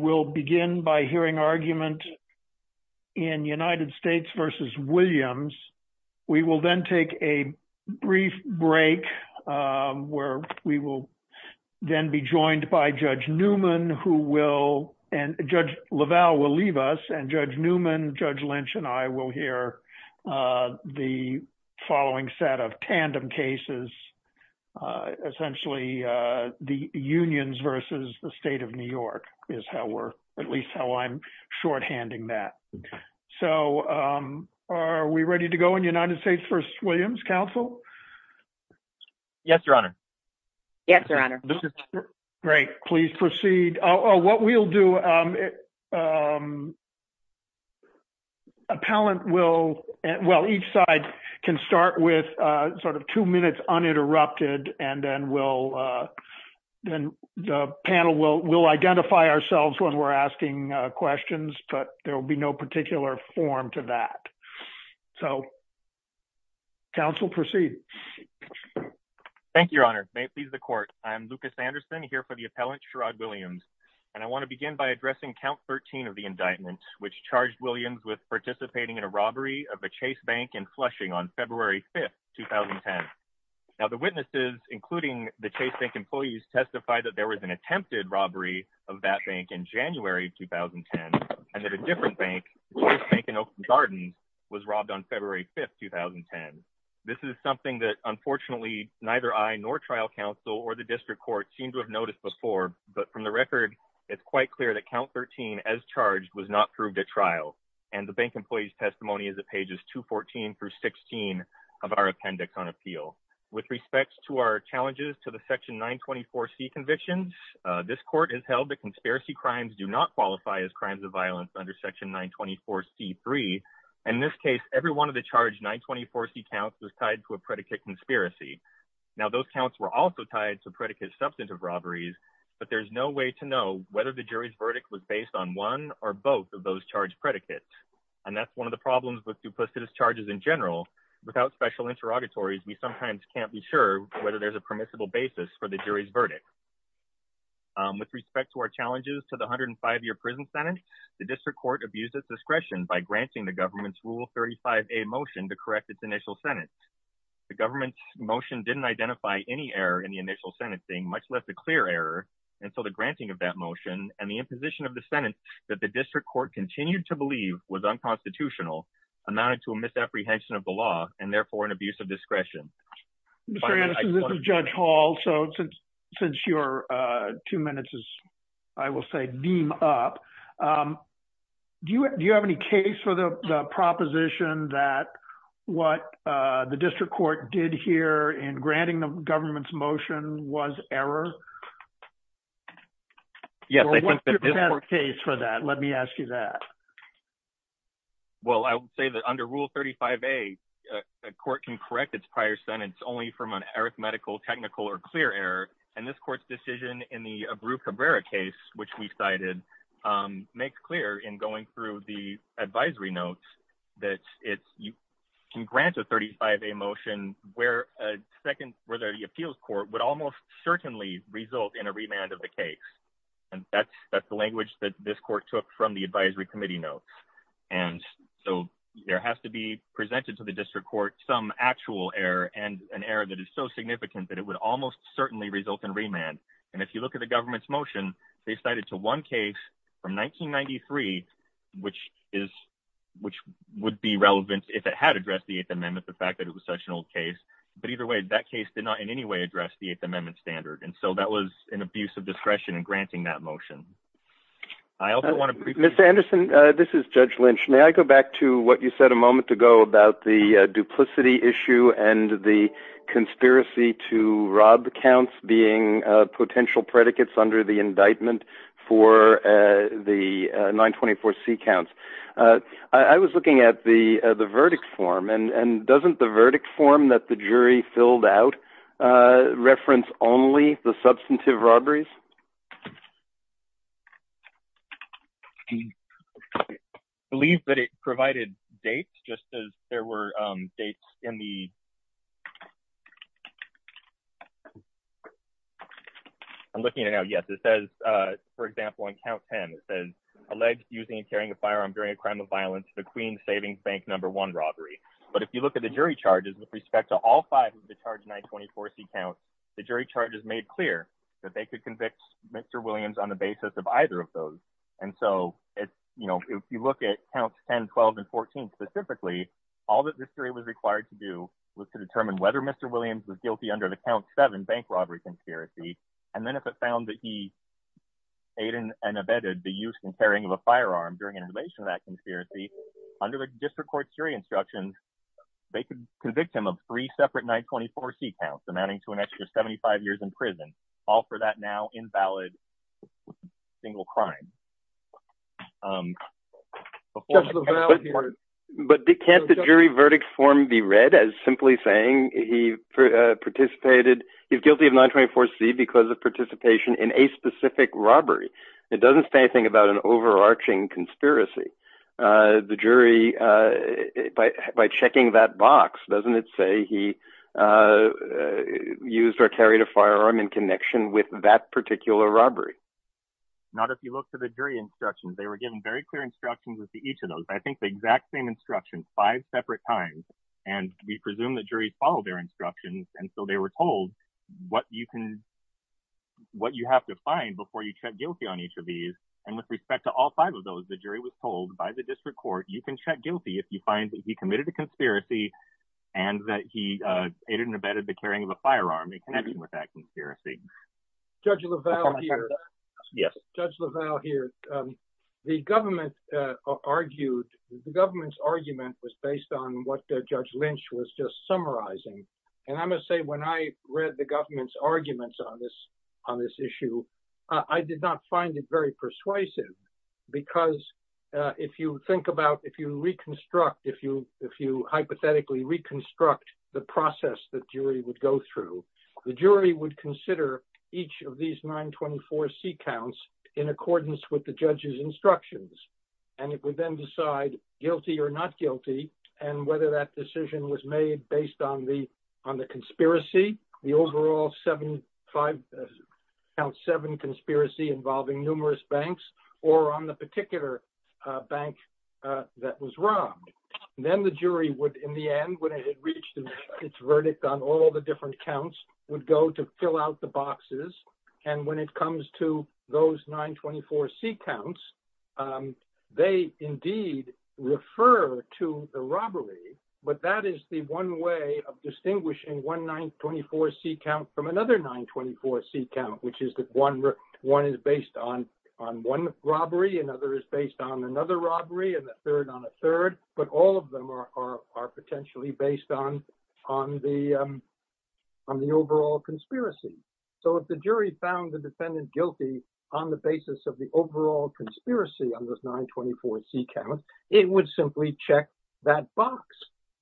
We will then take a brief break where we will then be joined by Judge Newman, who will, and Judge LaValle will leave us, and Judge Newman, Judge Lynch, and I will hear the following set of tandem cases, essentially the unions versus the state of New York, is how we're, at least how I'm shorthanding that. So are we ready to go in United States v. Williams? Counsel? Yes, Your Honor. Yes, Your Honor. Great. Please proceed. Oh, what we'll do, appellant will, well, each side can start with sort of two minutes uninterrupted, and then we'll, then the panel will, we'll identify ourselves when we're asking questions, but there will be no particular form to that. So, counsel, proceed. Thank you, Your Honor. May it please the court, I'm Lucas Anderson, here for the appellant, Sherrod Williams, and I want to begin by addressing count 13 of the indictment, which charged Williams with participating in a robbery of a Chase Bank in Flushing on February 5th, 2010. Now, the witnesses, including the Chase Bank employees, testified that there was an attempted robbery of that bank in January 2010, and that a different bank, Chase Bank in Oakland Gardens, was robbed on February 5th, 2010. This is something that, unfortunately, neither I nor trial counsel or the district court seem to have noticed before, but from the record, it's quite clear that count 13, as charged, was not proved at trial, and the bank employee's testimony is at pages 214 through 16 of our appendix on appeal. With respect to our challenges to the section 924C convictions, this court has held that conspiracy crimes do not qualify as crimes of violence under section 924C3. In this case, every one of the convictions is a conspiracy. Now, those counts were also tied to predicate substantive robberies, but there's no way to know whether the jury's verdict was based on one or both of those charged predicates, and that's one of the problems with supplicitous charges in general. Without special interrogatories, we sometimes can't be sure whether there's a permissible basis for the jury's verdict. With respect to our challenges to the 105-year prison sentence, the district court abused its discretion by granting the government's Rule 35a motion to correct its initial sentence. The government's motion didn't identify any error in the initial sentence, being much less a clear error, and so the granting of that motion and the imposition of the sentence that the district court continued to believe was unconstitutional amounted to a misapprehension of the law, and therefore an abuse of discretion. Mr. Anderson, this is Judge Hall. So since your two minutes is, I will say, beam up, do you have any case for the proposition that what the district court did here in granting the government's motion was error? Yes, I think the district court... Well, what's your best case for that? Let me ask you that. Well, I would say that under Rule 35a, a court can correct its prior sentence only from an arithmetical, technical, or clear error, and this court's decision in the Abru-Cabrera case, which we cited, makes clear in going through the advisory notes that you can grant a 35a motion where the appeals court would almost certainly result in a remand of the case, and that's the language that this court took from the advisory committee notes, and so there has to be presented to the district court some actual error, and an error that is so significant that it would almost certainly result in remand, and if you look at the government's motion, they cited to one case from 1993, which would be relevant if it had addressed the Eighth Amendment, the fact that it was such an old case, but either way, that case did not in any way address the Eighth Amendment standard, and so that was an abuse of discretion in granting that motion. I also want to... Mr. Anderson, this is Judge Lynch. May I go back to what you said a moment ago about the being potential predicates under the indictment for the 924c counts? I was looking at the verdict form, and doesn't the verdict form that the jury filled out reference only the substantive evidence? I'm looking at it now. Yes, it says, for example, on count 10, it says, alleged using and carrying a firearm during a crime of violence, the Queen's Savings Bank number one robbery, but if you look at the jury charges with respect to all five of the charge 924c counts, the jury charges made clear that they could convict Mr. Williams on the basis of either of those, and so it's, you know, if you look at counts 10, 12, and 14 specifically, all that this jury was required to do was to determine whether Mr. Williams was guilty under the count 7 bank robbery conspiracy, and then if it found that he aided and abetted the use and carrying of a firearm during an invasion of that conspiracy, under the district court jury instructions, they could convict him of three separate 924c counts amounting to an extra 75 years in prison, all for that now invalid single crime. But can't the jury verdict form be read as simply saying he participated, he's guilty of 924c because of participation in a specific robbery? It doesn't say anything about an overarching conspiracy. The jury, by checking that box, doesn't it say he used or carried a firearm in connection with that particular robbery? Not if you look to the jury instructions, they were given very clear instructions with each of and we presume the jury followed their instructions, and so they were told what you can, what you have to find before you check guilty on each of these, and with respect to all five of those, the jury was told by the district court you can check guilty if you find that he committed a conspiracy and that he aided and abetted the carrying of a firearm in connection with that conspiracy. Judge LaValle here. Yes. Judge LaValle here. The government argued, the government's on what Judge Lynch was just summarizing, and I must say when I read the government's arguments on this, on this issue, I did not find it very persuasive because if you think about, if you reconstruct, if you hypothetically reconstruct the process that jury would go through, the jury would consider each of these 924c counts in accordance with the judge's whether that decision was made based on the, on the conspiracy, the overall seven, five, count seven conspiracy involving numerous banks or on the particular bank that was robbed. Then the jury would, in the end, when it had reached its verdict on all the different counts, would go to fill out the boxes, and when it comes to those 924c counts, um, they indeed refer to the robbery, but that is the one way of distinguishing one 924c count from another 924c count, which is that one, one is based on, on one robbery, another is based on another robbery, and a third on a third, but all of them are, are, are potentially based on, on the, um, on the overall conspiracy. So if the jury found the defendant guilty on the basis of the overall conspiracy on this 924c count, it would simply check that box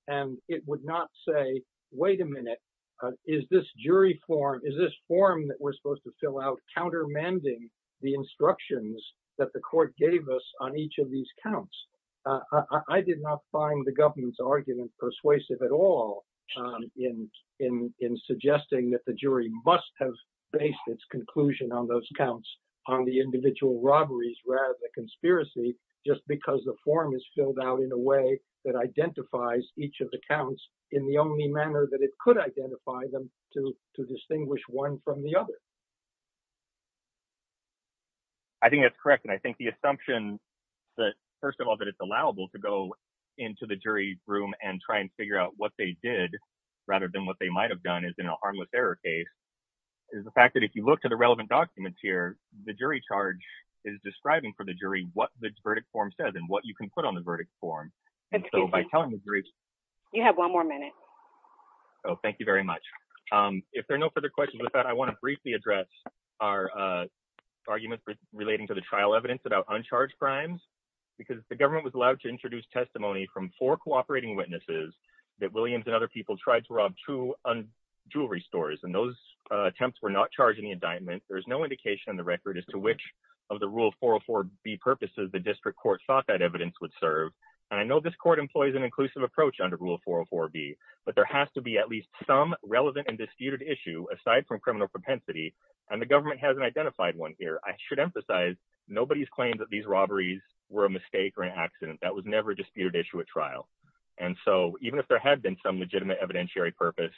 and it would not say, wait a minute, uh, is this jury form, is this form that we're supposed to fill out countermanding the instructions that the court gave us on each of these counts? Uh, I did not find the government's argument persuasive at all, um, in, in, in suggesting that the jury must have based its conclusion on those counts on the individual robberies rather than conspiracy, just because the form is filled out in a way that identifies each of the counts in the only manner that it could identify them to, to distinguish one from the other. I think that's correct, and I think the assumption that, first of all, that it's allowable to go into the jury room and try and figure out what they did rather than what they might have done in a harmless error case is the fact that if you look to the relevant documents here, the jury charge is describing for the jury, what the verdict form says and what you can put on the verdict form. And so by telling the jury, you have one more minute. Oh, thank you very much. Um, if there are no further questions with that, I want to briefly address our, uh, arguments relating to the trial evidence about uncharged crimes, because the government was allowed to introduce testimony from four cooperating witnesses that Williams and other people tried to rob two jewelry stores. And those attempts were not charging the indictment. There's no indication in the record as to which of the rule 404 B purposes, the district court thought that evidence would serve. And I know this court employs an inclusive approach under rule 404 B, but there has to be at least some relevant and disputed issue aside from criminal propensity. And the government hasn't identified one here. I should emphasize nobody's claimed that these robberies were a mistake or an accident that was never disputed issue at trial. And so even if there had been some legitimate evidentiary purpose,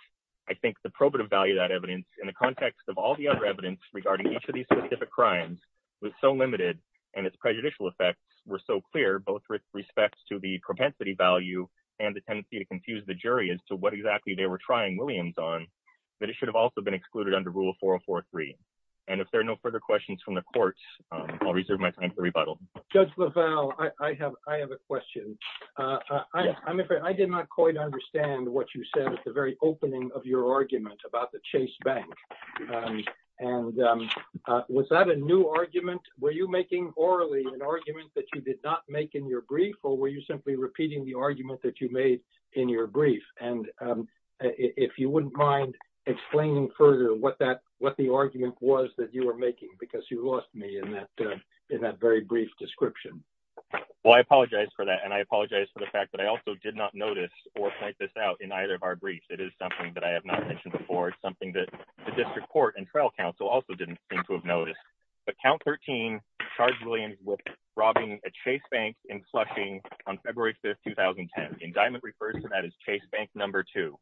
I think the probative value of that evidence in the context of all the other evidence regarding each of these specific crimes was so limited and its prejudicial effects were so clear, both with respects to the propensity value and the tendency to confuse the jury as to what exactly they were trying Williams on that it should have also been excluded under rule 404 three. And if there are no further questions from the courts, I'll reserve my time for rebuttal. Judge LaValle. I have I have a question. Uh, I'm afraid I did not quite understand what you said at the very opening of your argument about the Chase Bank. And was that a new argument? Were you making orally an argument that you did not make in your brief? Or were you simply repeating the argument that you made in your brief? And if you wouldn't mind explaining further what that what the argument was that you were making, because you lost me in that in that very brief description. Well, I apologize for that. And I apologize for the fact that I also did not notice or point this out in either of our briefs. It is something that I have not mentioned before, something that the district court and trial counsel also didn't seem to have noticed. But count 13 charged Williams with robbing a Chase Bank in Flushing on February 5th, 2010. Indictment refers to that as Chase Bank number two.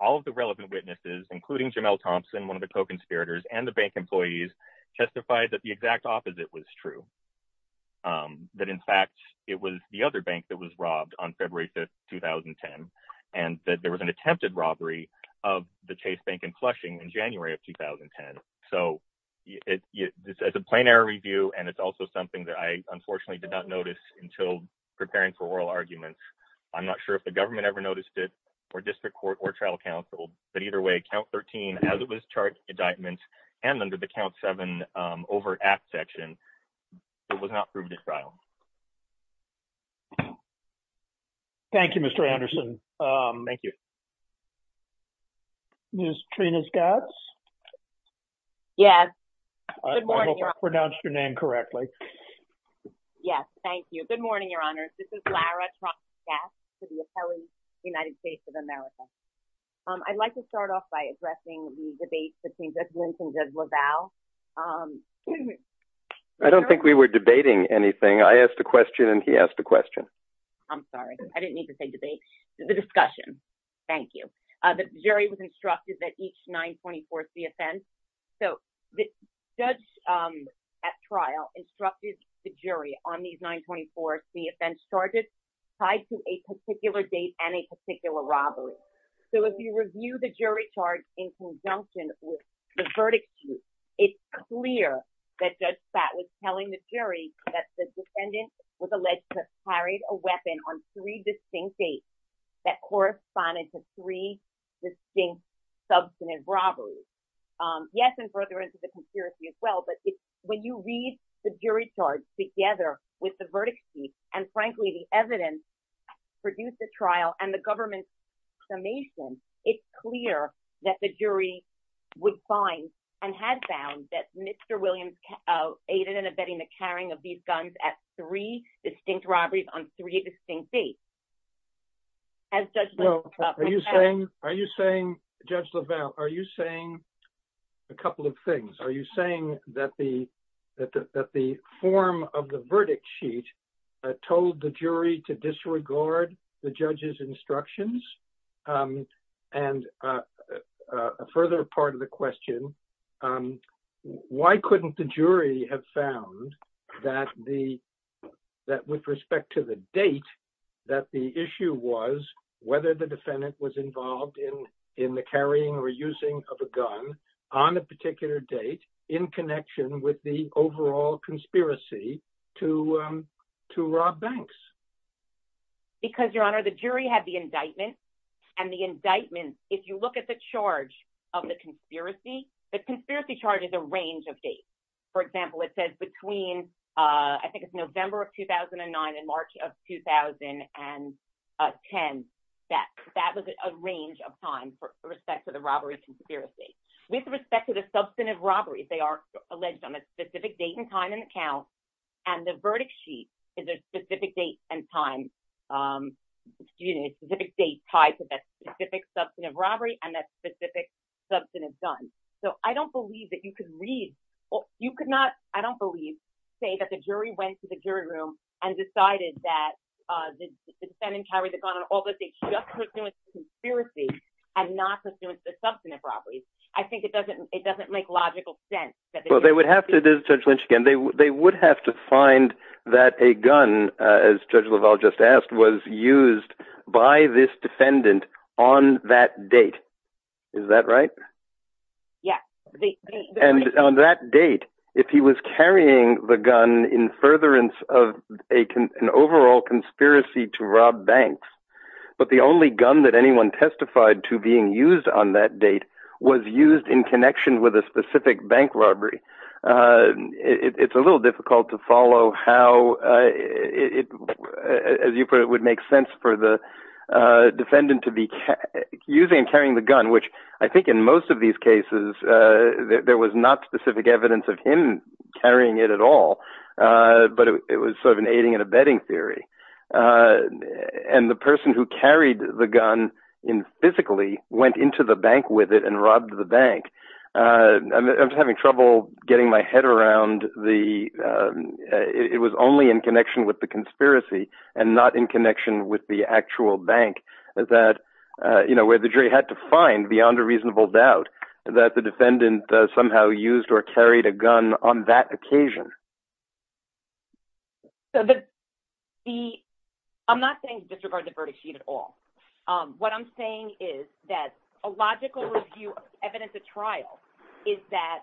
All of the relevant witnesses, including Jamel Thompson, one of the co conspirators and the bank employees, testified that the exact opposite was true. That, in fact, it was the other bank that was robbed on February 5th, 2010. And that there was an attempted robbery of the Chase Bank in Flushing in January of 2010. So it's a plain error review. And it's also something that I unfortunately did not notice until preparing for oral arguments. I'm not sure if the government ever noticed it, or district court or trial counsel, but either way, count 13 as it was charged indictment and under the count seven over at section. It was not proven in trial. Thank you, Mr. Anderson. Thank you. Ms. Trina Scott. Yes. Good morning. Pronounce your name correctly. Yes, thank you. Good morning, Your Honor. This is Lara. To the appellee, United States of America. I'd like to start off by addressing the debate between Judge Linton and Judge LaValle. I don't think we were debating anything. I asked a question, and he asked a question. I'm sorry. I didn't need to say debate. The discussion. Thank you. The jury was instructed that each 924 C offense. So the judge at trial instructed the jury on these 924 C offense charges tied to a particular date and a particular robbery. So if you review the verdict sheet, it's clear that Judge Spat was telling the jury that the defendant was alleged to have carried a weapon on three distinct dates that corresponded to three distinct substantive robberies. Yes. And further into the conspiracy as well. But when you read the jury charge together with the verdict sheet, and frankly, the evidence produced at trial and the and had found that Mr. Williams aided in abetting the carrying of these guns at three distinct robberies on three distinct dates. As Judge LaValle. Are you saying, Judge LaValle, are you saying a couple of things? Are you saying that the form of the verdict sheet told the jury to Why couldn't the jury have found that the that with respect to the date that the issue was whether the defendant was involved in in the carrying or using of a gun on a particular date in connection with the overall conspiracy to to rob banks? Because Your Honor, the jury had indictments. And the indictments, if you look at the charge of the conspiracy, the conspiracy charges a range of dates. For example, it says between I think it's November of 2009 and March of 2010. That that was a range of time for respect to the robbery conspiracy. With respect to the substantive robberies, they are alleged on a specific date and time and account. And the type of that specific substantive robbery and that specific substantive gun. So I don't believe that you could read or you could not. I don't believe say that the jury went to the jury room and decided that the defendant carried the gun on all the dates just pursuant to conspiracy and not pursuant to the substantive robberies. I think it doesn't it doesn't make logical sense that they would have to judge Lynch again. They would have to find that a gun, as Judge LaValle just asked, was used by this defendant on that date. Is that right? Yeah. And on that date, if he was carrying the gun in furtherance of an overall conspiracy to rob banks, but the only gun that anyone testified to being used on that date was used in connection with a specific bank robbery. It's a little difficult to follow how it, as you put it, would make sense for the defendant to be using and carrying the gun, which I think in most of these cases, there was not specific evidence of him carrying it at all. But it was sort of an aiding and abetting theory. And the person who carried the gun in physically went into the bank with it and robbed the bank. I'm having trouble getting my head around the it was only in connection with the conspiracy and not in connection with the actual bank that, you know, where the jury had to find beyond a reasonable doubt that the defendant somehow used or carried a gun on that occasion. So that the I'm not saying disregard the verdict sheet at all. What I'm saying is that a logical view, evidence of trial, is that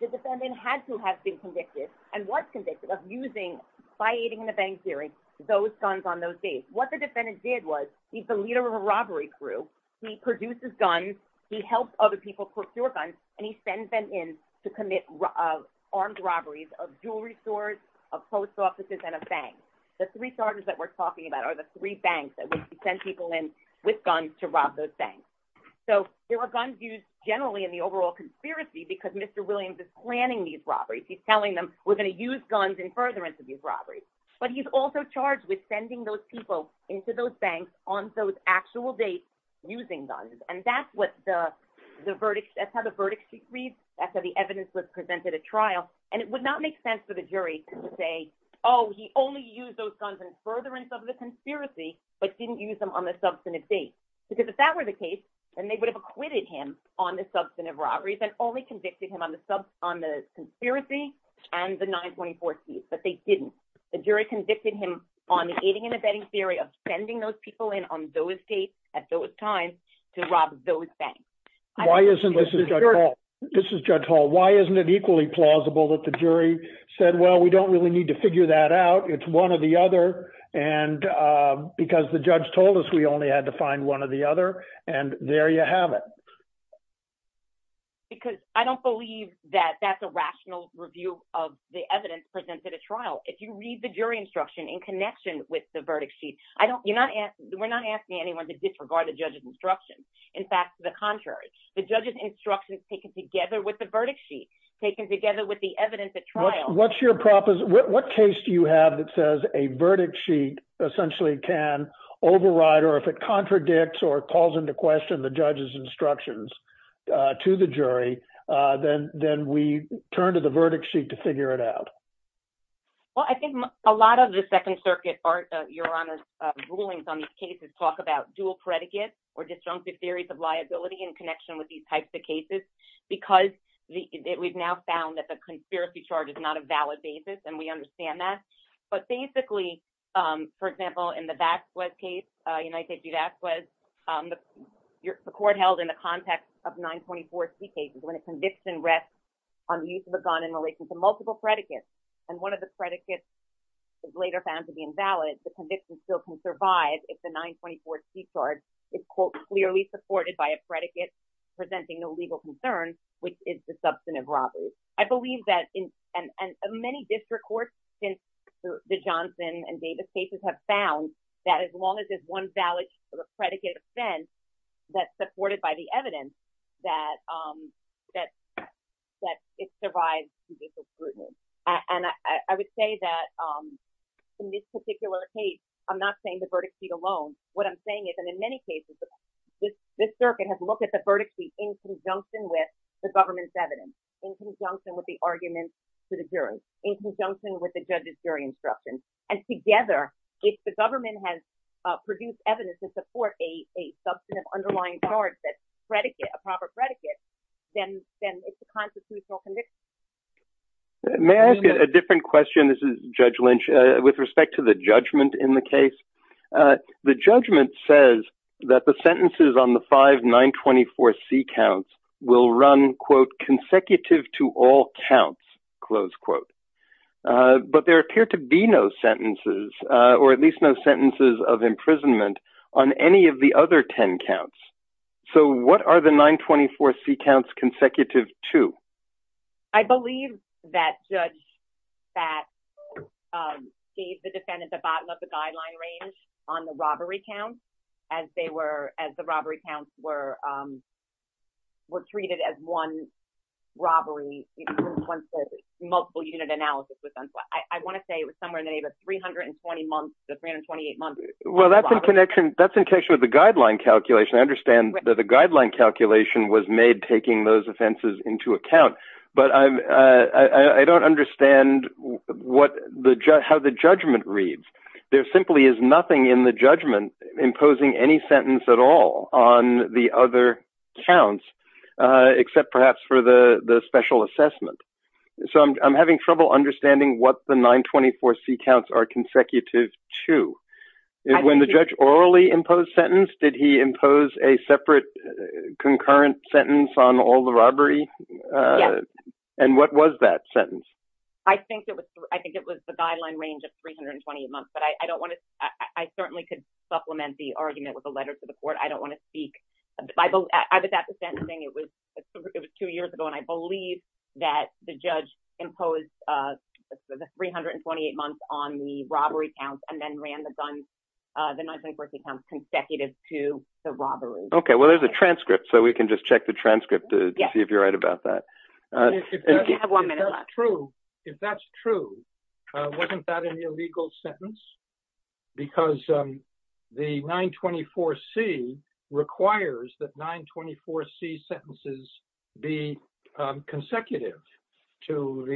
the defendant had to have been convicted and was convicted of using, by aiding and abetting theory, those guns on those dates. What the defendant did was, he's the leader of a robbery crew. He produces guns, he helped other people procure guns, and he sends them in to commit armed robberies of jewelry stores, of post offices, and of banks. The three charges that we're talking about are the three banks that we send people in with guns to rob those banks. So there were guns used generally in the overall conspiracy because Mr. Williams is planning these robberies. He's telling them we're going to use guns in furtherance of these robberies. But he's also charged with sending those people into those banks on those actual dates using guns. And that's what the verdict, that's how the verdict sheet reads, that's how the evidence was presented at trial. And it would not make sense for the jury to say, oh, he only used those guns in furtherance of the conspiracy, but didn't use them on the substantive date. Because if that were the case, then they would have acquitted him on the substantive robberies and only convicted him on the conspiracy and the 924 case. But they didn't. The jury convicted him on the aiding and abetting theory of sending those people in on those dates, at those times, to rob those banks. This is Judge Hall. Why isn't it that we need to figure that out? It's one or the other. And because the judge told us we only had to find one or the other. And there you have it. Because I don't believe that that's a rational review of the evidence presented at trial. If you read the jury instruction in connection with the verdict sheet, we're not asking anyone to disregard the judge's instruction. In fact, to the contrary, the judge's instruction is taken together with the verdict sheet, taken together with the evidence at trial. What case do you have that says a verdict sheet essentially can override or if it contradicts or calls into question the judge's instructions to the jury, then we turn to the verdict sheet to figure it out. Well, I think a lot of the Second Circuit, Your Honor's rulings on these cases talk about dual predicates or disjunctive theories of liability in connection with these types of cases. Because we've now found that the conspiracy charge is not a valid basis. And we understand that. But basically, for example, in the Baxwell case, United States v. Baxwell, the court held in the context of 924 C cases, when a conviction rests on the use of a gun in relation to multiple predicates, and one of the predicates is later found to be invalid, the conviction still can survive if the 924 C charge is, quote, clearly supported by a predicate presenting no legal concern, which is the substantive robbery. I believe that in many district courts since the Johnson and Davis cases have found that as long as there's one valid predicate offense that's supported by the evidence, that it survives judicial scrutiny. And I would say that in this particular case, I'm not saying the verdict sheet alone. What I'm saying is, in many cases, this circuit has looked at the verdict sheet in conjunction with the government's evidence, in conjunction with the arguments to the jury, in conjunction with the judge's jury instruction. And together, if the government has produced evidence to support a substantive underlying charge that's a predicate, a proper predicate, then it's a constitutional conviction. May I ask a different question? This is Judge Lynch. With respect to the judgment in the case, the judgment says that the sentences on the five 924 C counts will run, quote, consecutive to all counts, close quote. But there appear to be no sentences, or at least no sentences of imprisonment on any of the other 10 counts. So what are the 924 C counts consecutive to? I believe that Judge Fatt gave the defendant the bottom of the guideline range on the robbery count as they were, as the robbery counts were treated as one robbery, multiple unit analysis. I want to say it was somewhere in the neighborhood of 320 months to 328 months. Well, that's in connection with the guideline calculation. I understand that the guideline calculation was made taking those offenses into account. But I don't understand what the, how the judgment reads. There simply is nothing in the judgment imposing any sentence at all on the other counts, except perhaps for the special assessment. So I'm having trouble understanding what the 924 C counts are consecutive to. When the judge orally imposed sentence, did he impose a separate concurrent sentence on all the robbery? And what was that sentence? I think it was, I think it was the guideline range of 328 months, but I don't want to, I certainly could supplement the argument with a letter to the court. I don't want to speak, but I bet that's the same thing. It was, it was two years ago. And I believe that the judge imposed the 328 months on the robbery counts and then ran the guns, the 924 C counts consecutive to the robbery. Okay. Well, there's a transcript, so we can just check the transcript to see if you're right about that. If that's true, wasn't that an illegal sentence? Because the 924 C requires that 924 C sentences be consecutive to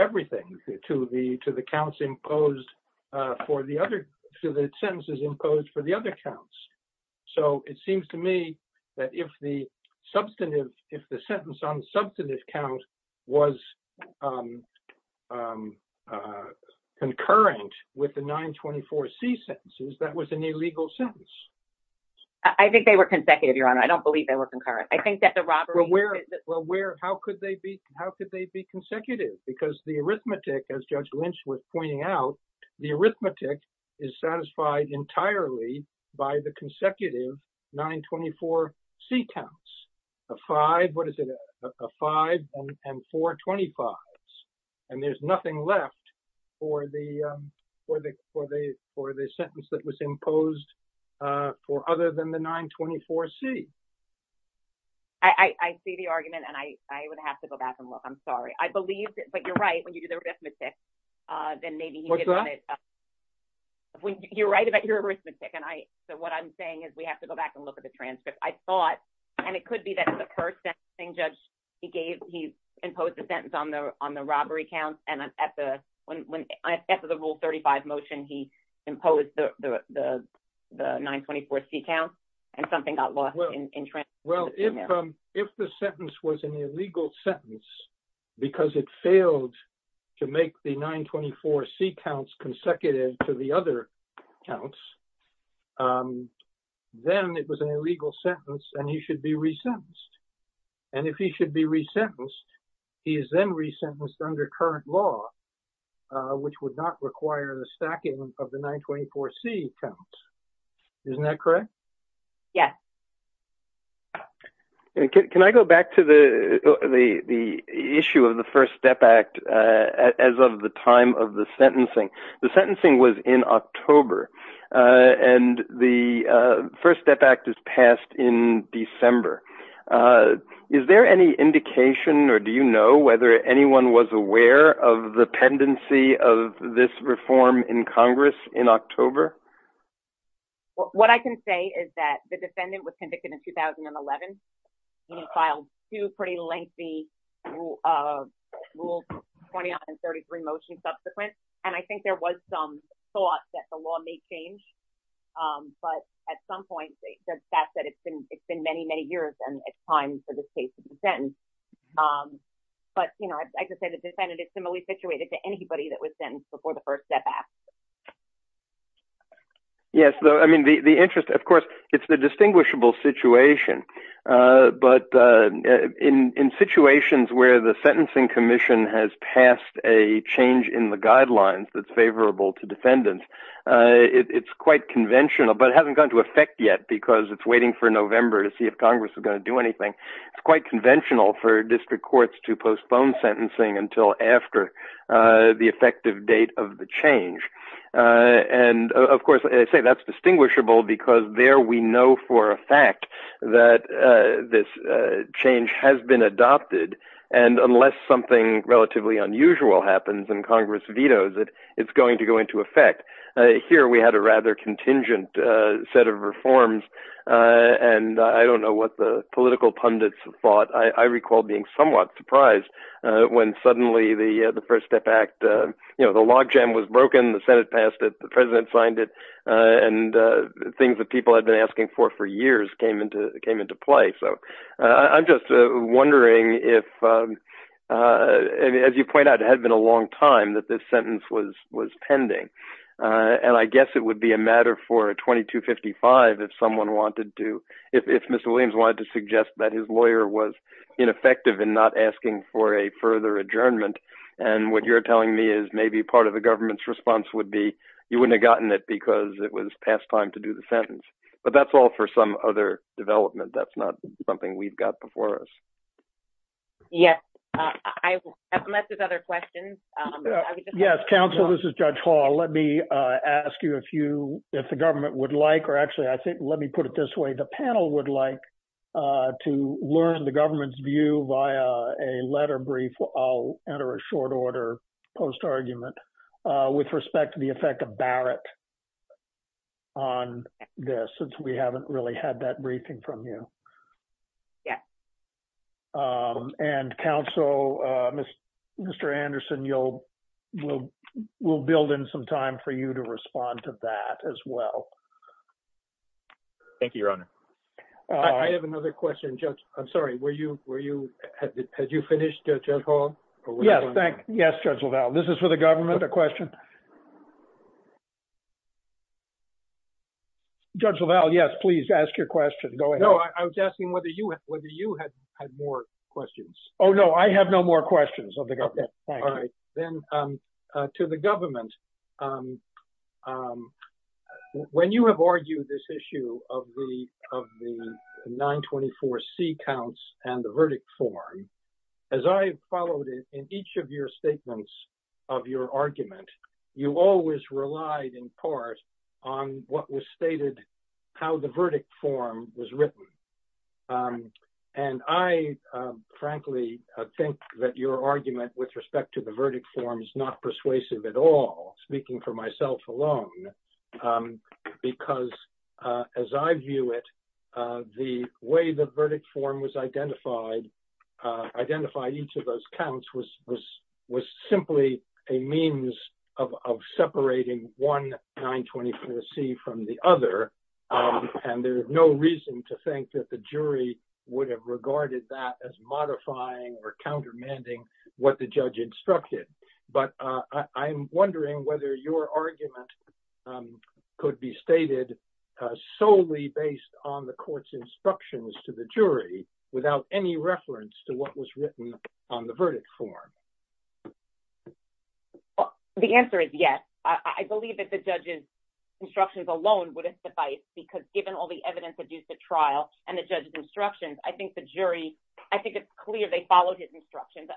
everything, to the counts imposed for the other, to the sentences imposed for the other counts. So it seems to me that if the substantive, if the sentence on the substantive count was concurrent with the 924 C sentences, that was an illegal sentence. I think they were consecutive, Your Honor. I don't believe they were concurrent. I think that the robbery... Well, where, well, where, how could they be, how could they be consecutive? Because the arithmetic, as Judge Lynch was pointing out, the arithmetic is satisfied entirely by the consecutive 924 C counts. A five, what is it, a five and four 25s. And there's nothing left for the sentence that was imposed for other than the 924 C. I see the argument and I would have to go back and look. I'm sorry. I believe, but you're right, when you do the arithmetic, then maybe... What's that? You're right about your arithmetic. And I, so what I'm saying is we have to go back and look at the transcript. I thought, and it could be that the first sentencing judge he gave, he imposed a sentence on the, on the robbery counts. And at the, when, after the rule 35 motion, he imposed the, the, the 924 C counts and something got lost. Well, if, if the sentence was an illegal sentence, because it failed to make the 924 C counts consecutive to the other counts, then it was an illegal sentence and he should be resentenced. And if he should be resentenced, he is then resentenced under current law, which would not require the stacking of the 924 C counts. Isn't that correct? Yes. Can I go back to the, the, the issue of the First Step Act as of the time of the sentencing? The sentencing was in October and the First Step Act is passed in December. Is there any indication or do you know whether anyone was aware of the pendency of this reform in Congress in October? Well, what I can say is that the defendant was convicted in 2011 and he filed two pretty lengthy rules 29 and 33 motions subsequent. And I think there was some thought that the law may change. But at some point, they said that it's been, it's been many, many years and it's time for this case to be sentenced. But, you know, I just said the defendant is similarly situated to anybody that was sentenced before the First Step Act. Yes. I mean, the, the interest, of course, it's a distinguishable situation. But in, in situations where the sentencing commission has passed a change in the guidelines that's favorable to defendants, it's quite conventional, but it hasn't gone into effect yet because it's waiting for November to see if Congress is going to do anything. It's quite conventional for district courts to postpone sentencing until after the effective date of the change. And of course, I say that's distinguishable because there we know for a fact that this change has been adopted. And unless something relatively unusual happens and Congress vetoes it, it's going to go into effect. Here, we had a rather contingent set of reforms. And I don't know what the political pundits thought. I recall being somewhat surprised when suddenly the First Step Act, you know, the logjam was broken, the Senate passed it, the President signed it, and things that people had been asking for, for years came into, came into play. So I'm just wondering if, as you point out, it had been a long time that this sentence was, was pending. And I guess it would be a matter for a 2255 if someone wanted to, if Mr. Williams wanted to suggest that his lawyer was ineffective in not asking for a further adjournment. And what you're telling me is maybe part of the government's response would be, you wouldn't have gotten it because it was past time to do the sentence. But that's all for some other development. That's not something we've got before us. Yes, unless there's other questions. Yes, counsel, this is Judge Hall. Let me ask you if you, if the government would like, or actually, I think, let me put it this way, the panel would like to learn the government's view via a letter brief. I'll enter a short order post-argument with respect to the effect of Barrett on this, since we haven't really had that briefing from you. Yeah. And counsel, Mr. Anderson, you'll, we'll, we'll build in some time for you to respond to that as well. Thank you, Your Honor. I have another question, Judge. I'm sorry, were you, were you, had you finished, Judge Hall? Yes, thank, yes, Judge LaValle. This is for the government, a question. Judge LaValle, yes, please ask your question. Go ahead. No, I was asking whether you, whether you had more questions. Oh, no, I have no more questions of the government. Okay, all right. Then to the government, when you have argued this issue of the, of the 924C counts and the verdict form, as I followed it in each of your statements of your argument, you always relied in part on what was stated, how the verdict form was written. And I, frankly, think that your argument with respect to the verdict form is not persuasive at all, speaking for myself alone, because as I view it, the way the verdict form was identified, identified each of those counts was, was, was simply a means of, of separating one 924C from the other. And there's no reason to think that the jury would have regarded that as modifying or countermanding what the judge instructed. But I'm wondering whether your argument could be stated solely based on the court's instructions to the jury without any reference to what was written on the verdict form. The answer is yes. I believe that the judge's instructions alone wouldn't suffice, because given all the evidence of use at trial and the judge's instructions, I think the jury, I think it's clear they followed his instructions.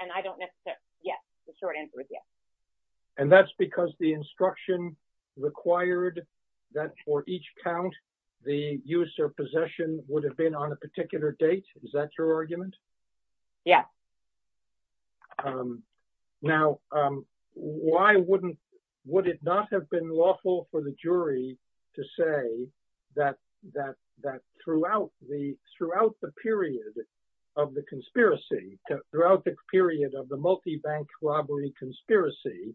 And I don't necessarily, yes, the short answer is yes. And that's because the instruction required that for each count, the use or possession would have been on a particular date. Is that your argument? Yes. Now, why wouldn't, would it not have been lawful for the jury to say that, that, that throughout the, throughout the period of the conspiracy, throughout the period of the multibank robbery conspiracy,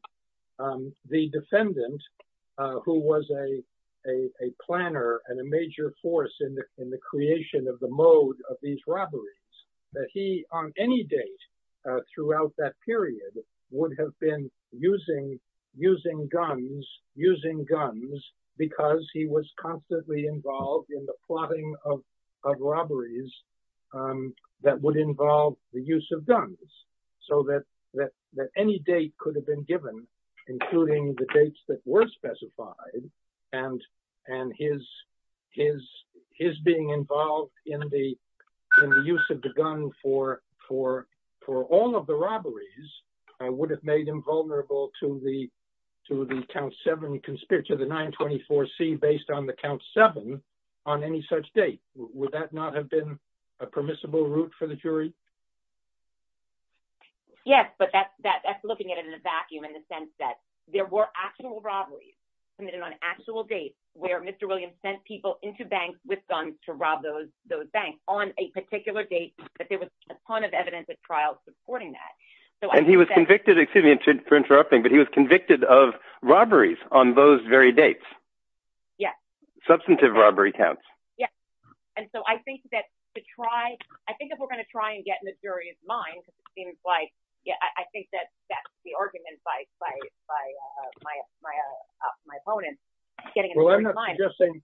the defendant, who was a, a, a planner and a major force in the, in the creation of the mode of these robberies, that he on any date throughout that period would have been using, using guns, using guns, because he was constantly involved in the plotting of, of robberies that would involve the use of guns. So that, that, that any date could have been given, including the dates that in the use of the gun for, for, for all of the robberies, I would have made him vulnerable to the, to the count seven conspirator, the nine 24 C based on the count seven on any such date. Would that not have been a permissible route for the jury? Yes, but that's, that's looking at it in a vacuum in the sense that there were actual robberies committed on actual dates where Mr. Williams sent people into banks with guns to rob those, those banks on a particular date, but there was a ton of evidence at trial supporting that. So, and he was convicted, excuse me for interrupting, but he was convicted of robberies on those very dates. Yeah. Substantive robbery counts. Yeah. And so I think that to try, I think if we're going to try and get in the jury's mind, it seems like, yeah, I think that that's the argument by, by, by my, my, my opponent. Well, I'm not suggesting,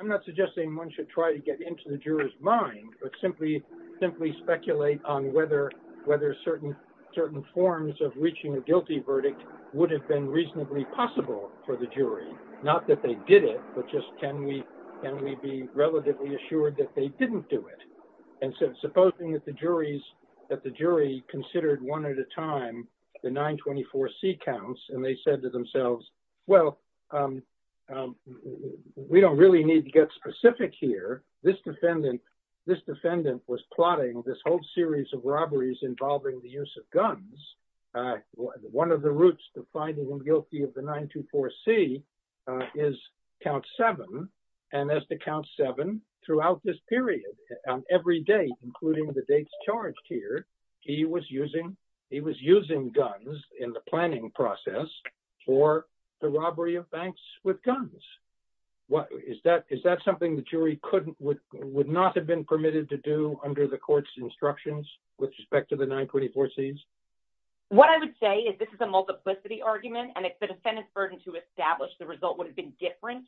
I'm not suggesting one should try to get into the juror's mind, but simply, simply speculate on whether, whether certain, certain forms of reaching a guilty verdict would have been reasonably possible for the jury. Not that they did it, but just can we, can we be relatively assured that they didn't do it? And so supposing that the juries, that the jury considered one at a time, the 924C counts, and they said to themselves, well, we don't really need to get specific here. This defendant, this defendant was plotting this whole series of robberies involving the use of guns. One of the routes to finding them guilty of the 924C is count seven. And as to count seven throughout this period, every day, including the dates charged here, he was using, he was using guns in the planning process for the robbery of banks with guns. What, is that, is that something the jury couldn't, would not have been permitted to do under the court's instructions with respect to the 924Cs? What I would say is this is a multiplicity argument, and it's the defendant's burden to establish the result would have been different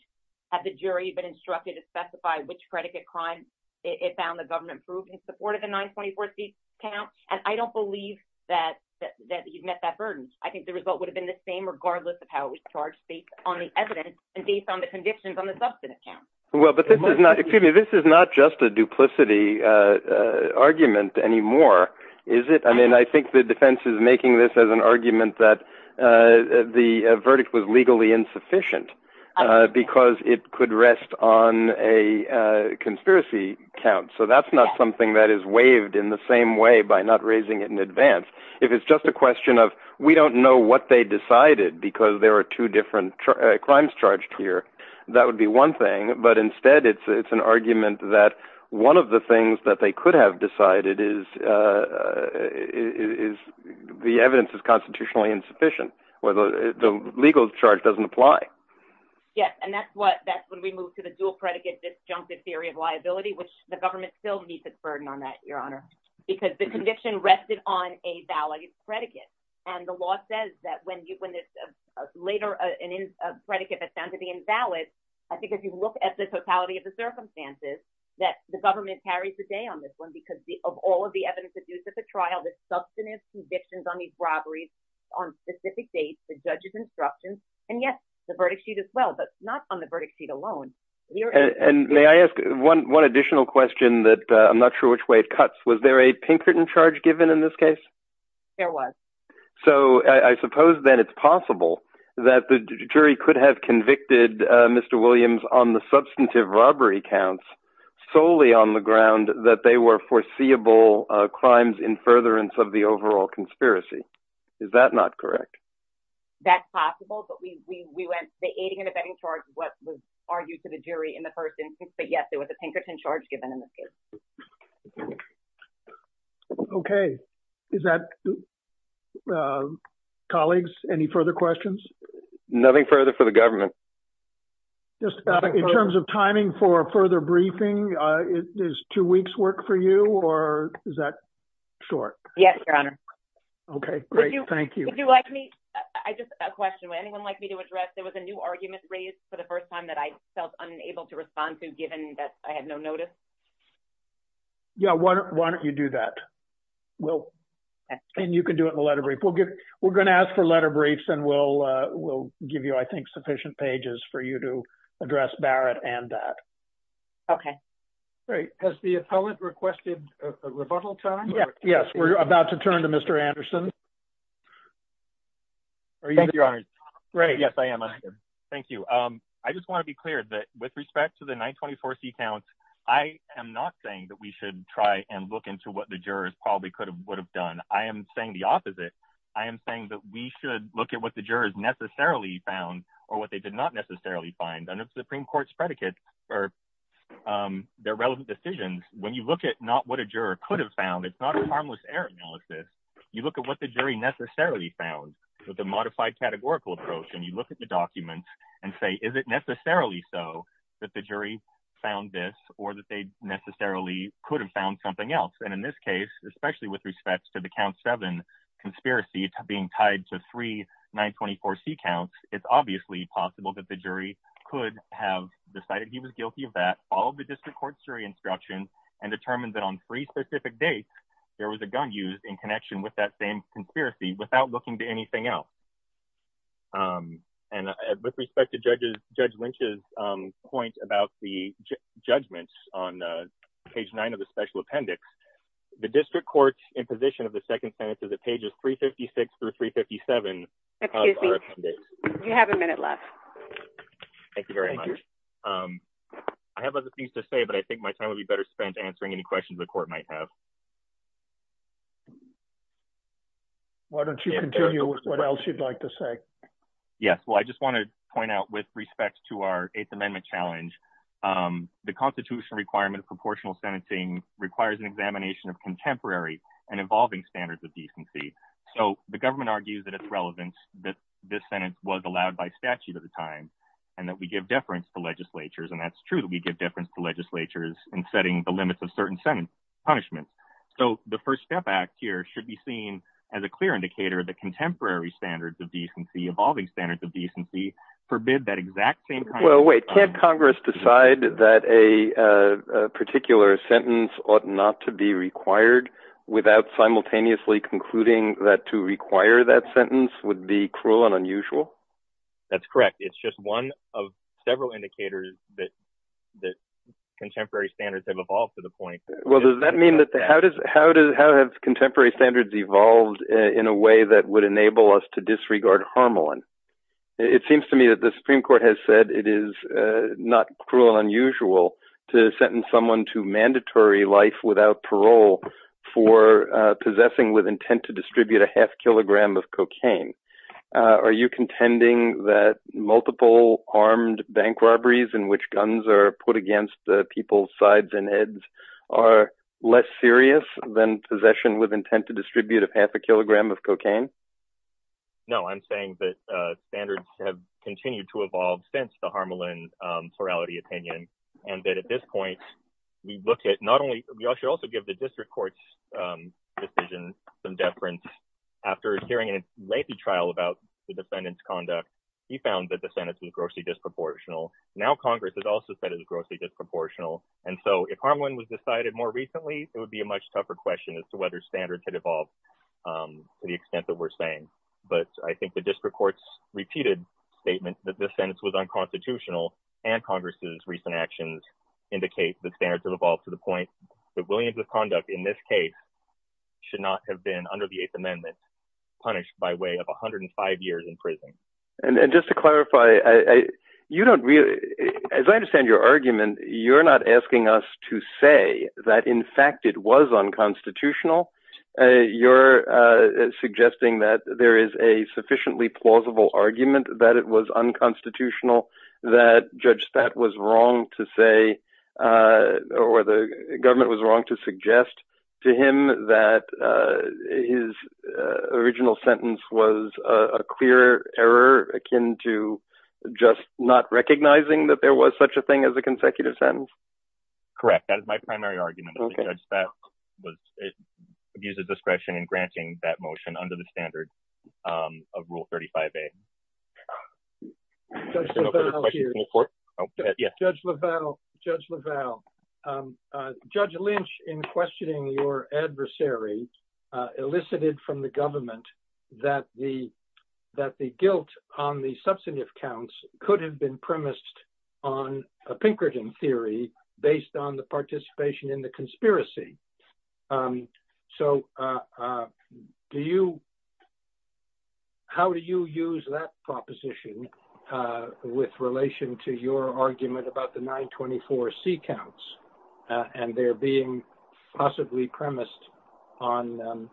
had the jury been instructed to specify which predicate crime it found the government proved in support of the 924C count. And I don't believe that, that, that you've met that burden. I think the result would have been the same regardless of how it was charged based on the evidence and based on the convictions on the substance count. Well, but this is not, excuse me, this is not just a duplicity argument anymore, is it? I mean, I think the defense is making this as an argument that the verdict was legally insufficient because it could rest on a conspiracy count. So that's not something that is waived in the same way by not raising it in advance. If it's just a question of, we don't know what they decided because there are two different crimes charged here, that would be one thing. But instead, it's, it's an argument that one of the things that they could have decided is, is the evidence is constitutionally insufficient. Whether the legal charge doesn't apply. Yes. And that's what, that's when we moved to the dual predicate disjunctive theory of liability, which the government still meets its burden on that, Your Honor, because the conviction rested on a valid predicate. And the law says that when you, when this later, an in, a predicate that's found to be invalid, I think if you look at the totality of the circumstances that the government carries the day on this one, because of all of the evidence that's used at the trial, the substantive convictions on these robberies on specific dates, the judge's instructions, and yes, the verdict sheet as well, but not on the verdict sheet alone. And may I ask one, one additional question that I'm not sure which way it cuts. Was there a Pinkerton charge given in this case? There was. So I suppose then it's possible that the jury could have convicted Mr. Williams on the substantive robbery counts solely on the ground that they were foreseeable crimes in furtherance of the overall conspiracy. Is that not correct? That's possible. But we, we, we went the aiding and abetting charge, what was argued to the jury in the first instance, but yes, there was a Pinkerton charge given in this case. Okay. Is that colleagues, any further questions? Nothing further for the government. Just in terms of timing for further briefing, is two weeks work for you or is that short? Yes, your honor. Okay, great. Thank you. Would you like me? I just a question. Would anyone like me to address? There was a new argument raised for the first time that I felt unable to respond to given that I had no notice. Yeah. Why don't you do that? Well, and you can do it in the letter brief. We'll get, we're going to ask for letter briefs and we'll, we'll give you, I think, sufficient pages for you to address Barrett and that. Okay. Great. Has the appellant requested a rebuttal time? Yes. We're about to turn to Mr. Anderson. Are you, your honor? Great. Yes, I am. Thank you. I just want to be clear that with respect to the 924 seat counts, I am not saying that we should try and look into what the jurors probably could have, would have done. I am saying the opposite. I am saying that we should look at what the jurors necessarily found or what they did not necessarily find and it's the Supreme court's predicates or their relevant decisions. When you look at not what a juror could have found, it's not a harmless error analysis. You look at what the jury necessarily found with a modified categorical approach and you look at the documents and say, is it necessarily so that the jury found this or that they necessarily could have found something else. And in this case, especially with respect to the count seven conspiracy, it's being tied to three 924 seat counts. It's obviously possible that the jury could have decided he was guilty of that. All of the district court's jury instruction and determined that on three specific dates, there was a gun used in connection with that same conspiracy without looking to anything else. And with respect to judges, Judge Lynch's point about the judgments on page nine of the special appendix, the district court in position of the second sentence of the pages, three 56 through three 57. You have a minute left. Thank you very much. I have other things to say, but I think my time would be better spent answering any questions the court might have. Why don't you continue with what else you'd like to say? Yes. Well, I just want to point out with respect to our eighth amendment challenge, the constitutional requirement of proportional sentencing requires an examination of contemporary and evolving standards of decency. So the government argues that it's relevant that this Senate was allowed by statute at the time and that we give deference to legislatures. And that's true that we give deference to legislatures in setting the limits of certain sentence punishment. So the first step act here should be seen as a clear indicator of the contemporary standards of decency, evolving standards of decency forbid that exact thing. Well, wait, can't Congress decide that a particular sentence ought not to be required without simultaneously concluding that to require that sentence would be cruel and unusual. That's correct. It's just one of several indicators that, that contemporary standards have evolved to the point. Well, does that mean that the, how does, how does, how have contemporary standards evolved in a way that would enable us to disregard Harmelin? It seems to me that the Supreme Court has said it is not cruel and unusual to sentence someone to mandatory life without parole for possessing with intent to distribute a half kilogram of cocaine. Are you contending that multiple armed bank robberies in which guns are put against the people's sides and heads are less serious than possession with intent to distribute a half a kilogram of cocaine? No, I'm saying that standards have continued to evolve since the Harmelin plurality opinion. And that at this point, we look at not only, we should also give the district court's decision some deference after hearing a lengthy trial about the defendant's conduct. He found that the sentence was grossly disproportional. Now, Congress has also said it was grossly disproportional. And so if Harmelin was to the extent that we're saying, but I think the district courts repeated statements that this sentence was unconstitutional and Congress's recent actions indicate the standards have evolved to the point that Williams's conduct in this case should not have been under the eighth amendment punished by way of 105 years in prison. And just to clarify, you don't really, as I understand your argument, you're not asking us to say that in fact, it was unconstitutional. You're suggesting that there is a sufficiently plausible argument that it was unconstitutional, that Judge Statt was wrong to say, or the government was wrong to suggest to him that his original sentence was a clear error akin to just not recognizing that there was such a thing as a consecutive sentence. Correct. That is my primary argument. Judge Statt was, abused discretion in granting that motion under the standard of rule 35A. Judge LaValle, Judge Lynch, in questioning your adversary, elicited from the government that the guilt on the substantive counts could have been premised on a Pinkerton theory based on the participation in the conspiracy. So do you, how do you use that proposition with relation to your argument about the 924C counts and they're being possibly premised on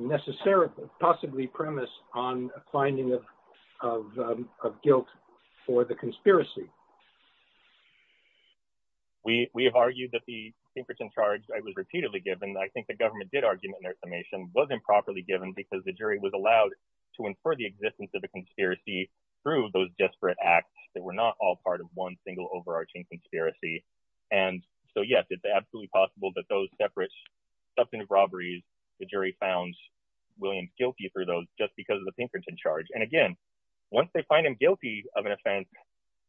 necessarily, possibly premised on finding of guilt for the conspiracy? We, we have argued that the Pinkerton charge was repeatedly given. I think the government did argument in their summation, wasn't properly given because the jury was allowed to infer the existence of the conspiracy through those desperate acts that were not all part of one single overarching conspiracy. And so yes, it's absolutely possible that those separate substantive robberies, the jury found William guilty for those just because of the Pinkerton charge. And again, once they find him guilty of an offense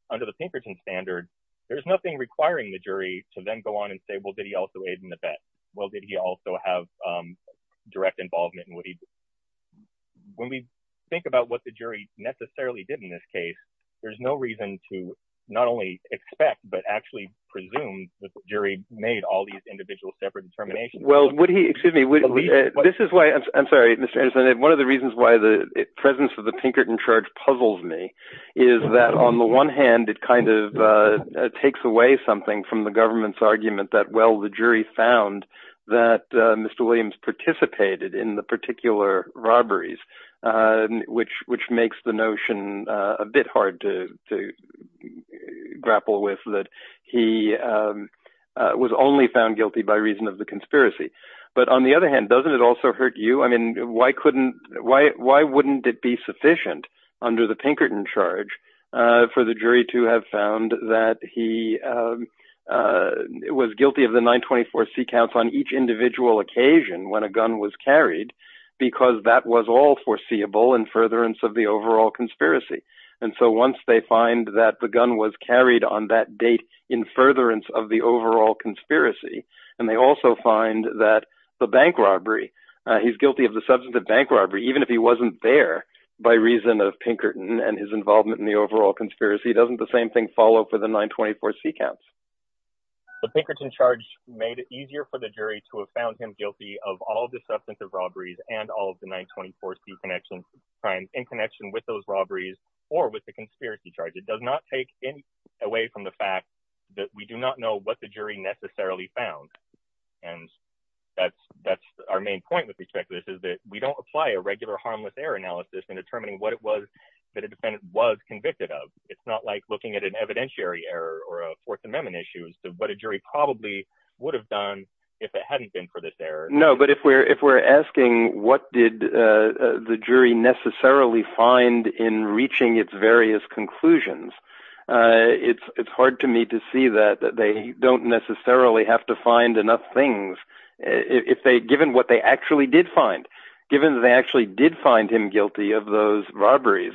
under the Pinkerton charge, under the Pinkerton standard, there's nothing requiring the jury to then go on and say, well, did he also aid in the bet? Well, did he also have direct involvement in what he did? When we think about what the jury necessarily did in this case, there's no reason to not only expect, but actually presume that the jury made all these individual separate determinations. Well, would he, excuse me, this is why I'm sorry, Mr. Anderson, one of the reasons why the presence of the Pinkerton charge puzzles me is that on the one hand, it kind of takes away something from the government's argument that, well, the jury found that Mr. Williams participated in the particular robberies, which makes the notion a bit hard to grapple with that he was only found guilty by reason of the conspiracy. But on the other hand, doesn't it also hurt you? Why wouldn't it be sufficient under the Pinkerton charge for the jury to have found that he was guilty of the 924 C counts on each individual occasion when a gun was carried, because that was all foreseeable in furtherance of the overall conspiracy. And so once they find that the gun was carried on that date in furtherance of the overall conspiracy, and they also find that the bank robbery, he's guilty of the substantive bank robbery, even if he wasn't there by reason of Pinkerton and his involvement in the overall conspiracy, doesn't the same thing follow for the 924 C counts? The Pinkerton charge made it easier for the jury to have found him guilty of all the substantive robberies and all of the 924 C crimes in connection with those robberies or with the conspiracy charge. It does not take anything away from the fact that we do not know what the jury necessarily found. And that's our main point with respect to this, is that we don't apply a regular harmless error analysis in determining what it was that a defendant was convicted of. It's not like looking at an evidentiary error or a Fourth Amendment issue as to what a jury probably would have done if it hadn't been for this error. No, but if we're asking what did the jury necessarily find in reaching its various conclusions, it's hard to me to see that they don't necessarily have to find enough things, given what they actually did find, given that they actually did find him guilty of those robberies,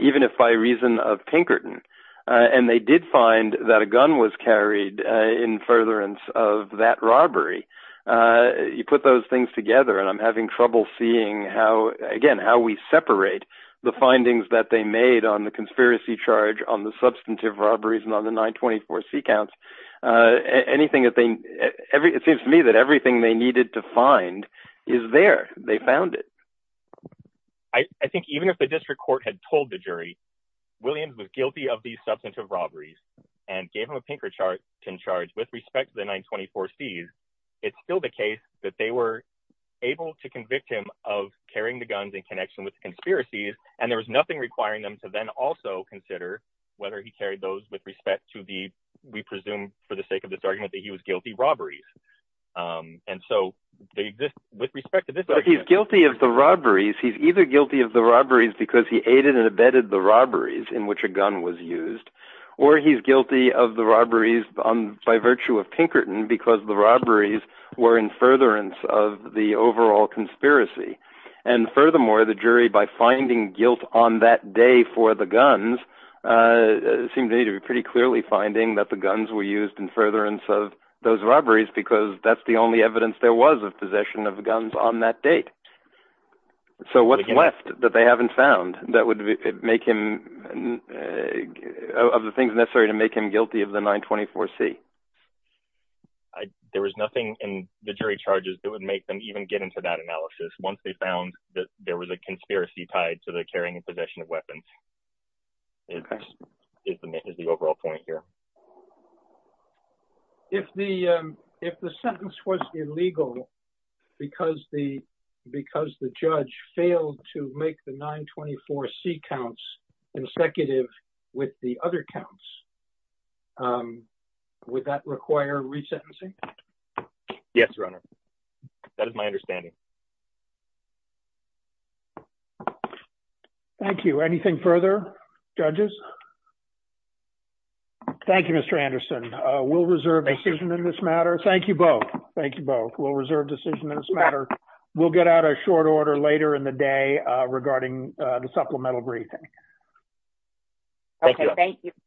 even if by reason of Pinkerton. And they did find that a gun was carried in furtherance of that robbery. You put those things together and I'm having trouble seeing how, again, how we separate the findings that they made on the conspiracy charge on the substantive robberies and on the 924 C counts. Anything that they, it seems to me that everything they needed to find is there. They found it. I think even if the district court had told the jury, Williams was guilty of these substantive robberies and gave him a Pinkerton charge with respect to the 924 C's, it's still the case that they were able to convict him of carrying the guns in connection with conspiracies. And there was nothing requiring them to then also consider whether he carried those with respect to the, we presume for the sake of this argument, that he was guilty of robberies. And so with respect to this, he's guilty of the robberies. He's either guilty of the robberies because he aided and abetted the robberies in which a gun was used, or he's guilty of the robberies by virtue of Pinkerton because the robberies were in furtherance of the overall conspiracy. And furthermore, the jury, by finding guilt on that day for the guns, seemed to me to be pretty clearly finding that the guns were used in furtherance of those robberies, because that's the only evidence there was of possession of guns on that date. So what's left that they haven't found that would make him, of the things necessary to make him guilty of the 924 C? I, there was nothing in the jury charges that would make them even get into that analysis. Once they found that there was a conspiracy tied to the carrying and possession of weapons, it is the overall point here. If the, if the sentence was illegal, because the, because the judge failed to make the 924 C counts consecutive with the other counts, would that require resentencing? Yes, your honor. That is my understanding. Thank you. Anything further, judges? Thank you, Mr. Anderson. We'll reserve decision in this matter. Thank you both. Thank you both. We'll reserve decision in this matter. We'll get out a short order later in the regarding the supplemental briefing. Okay. Thank you.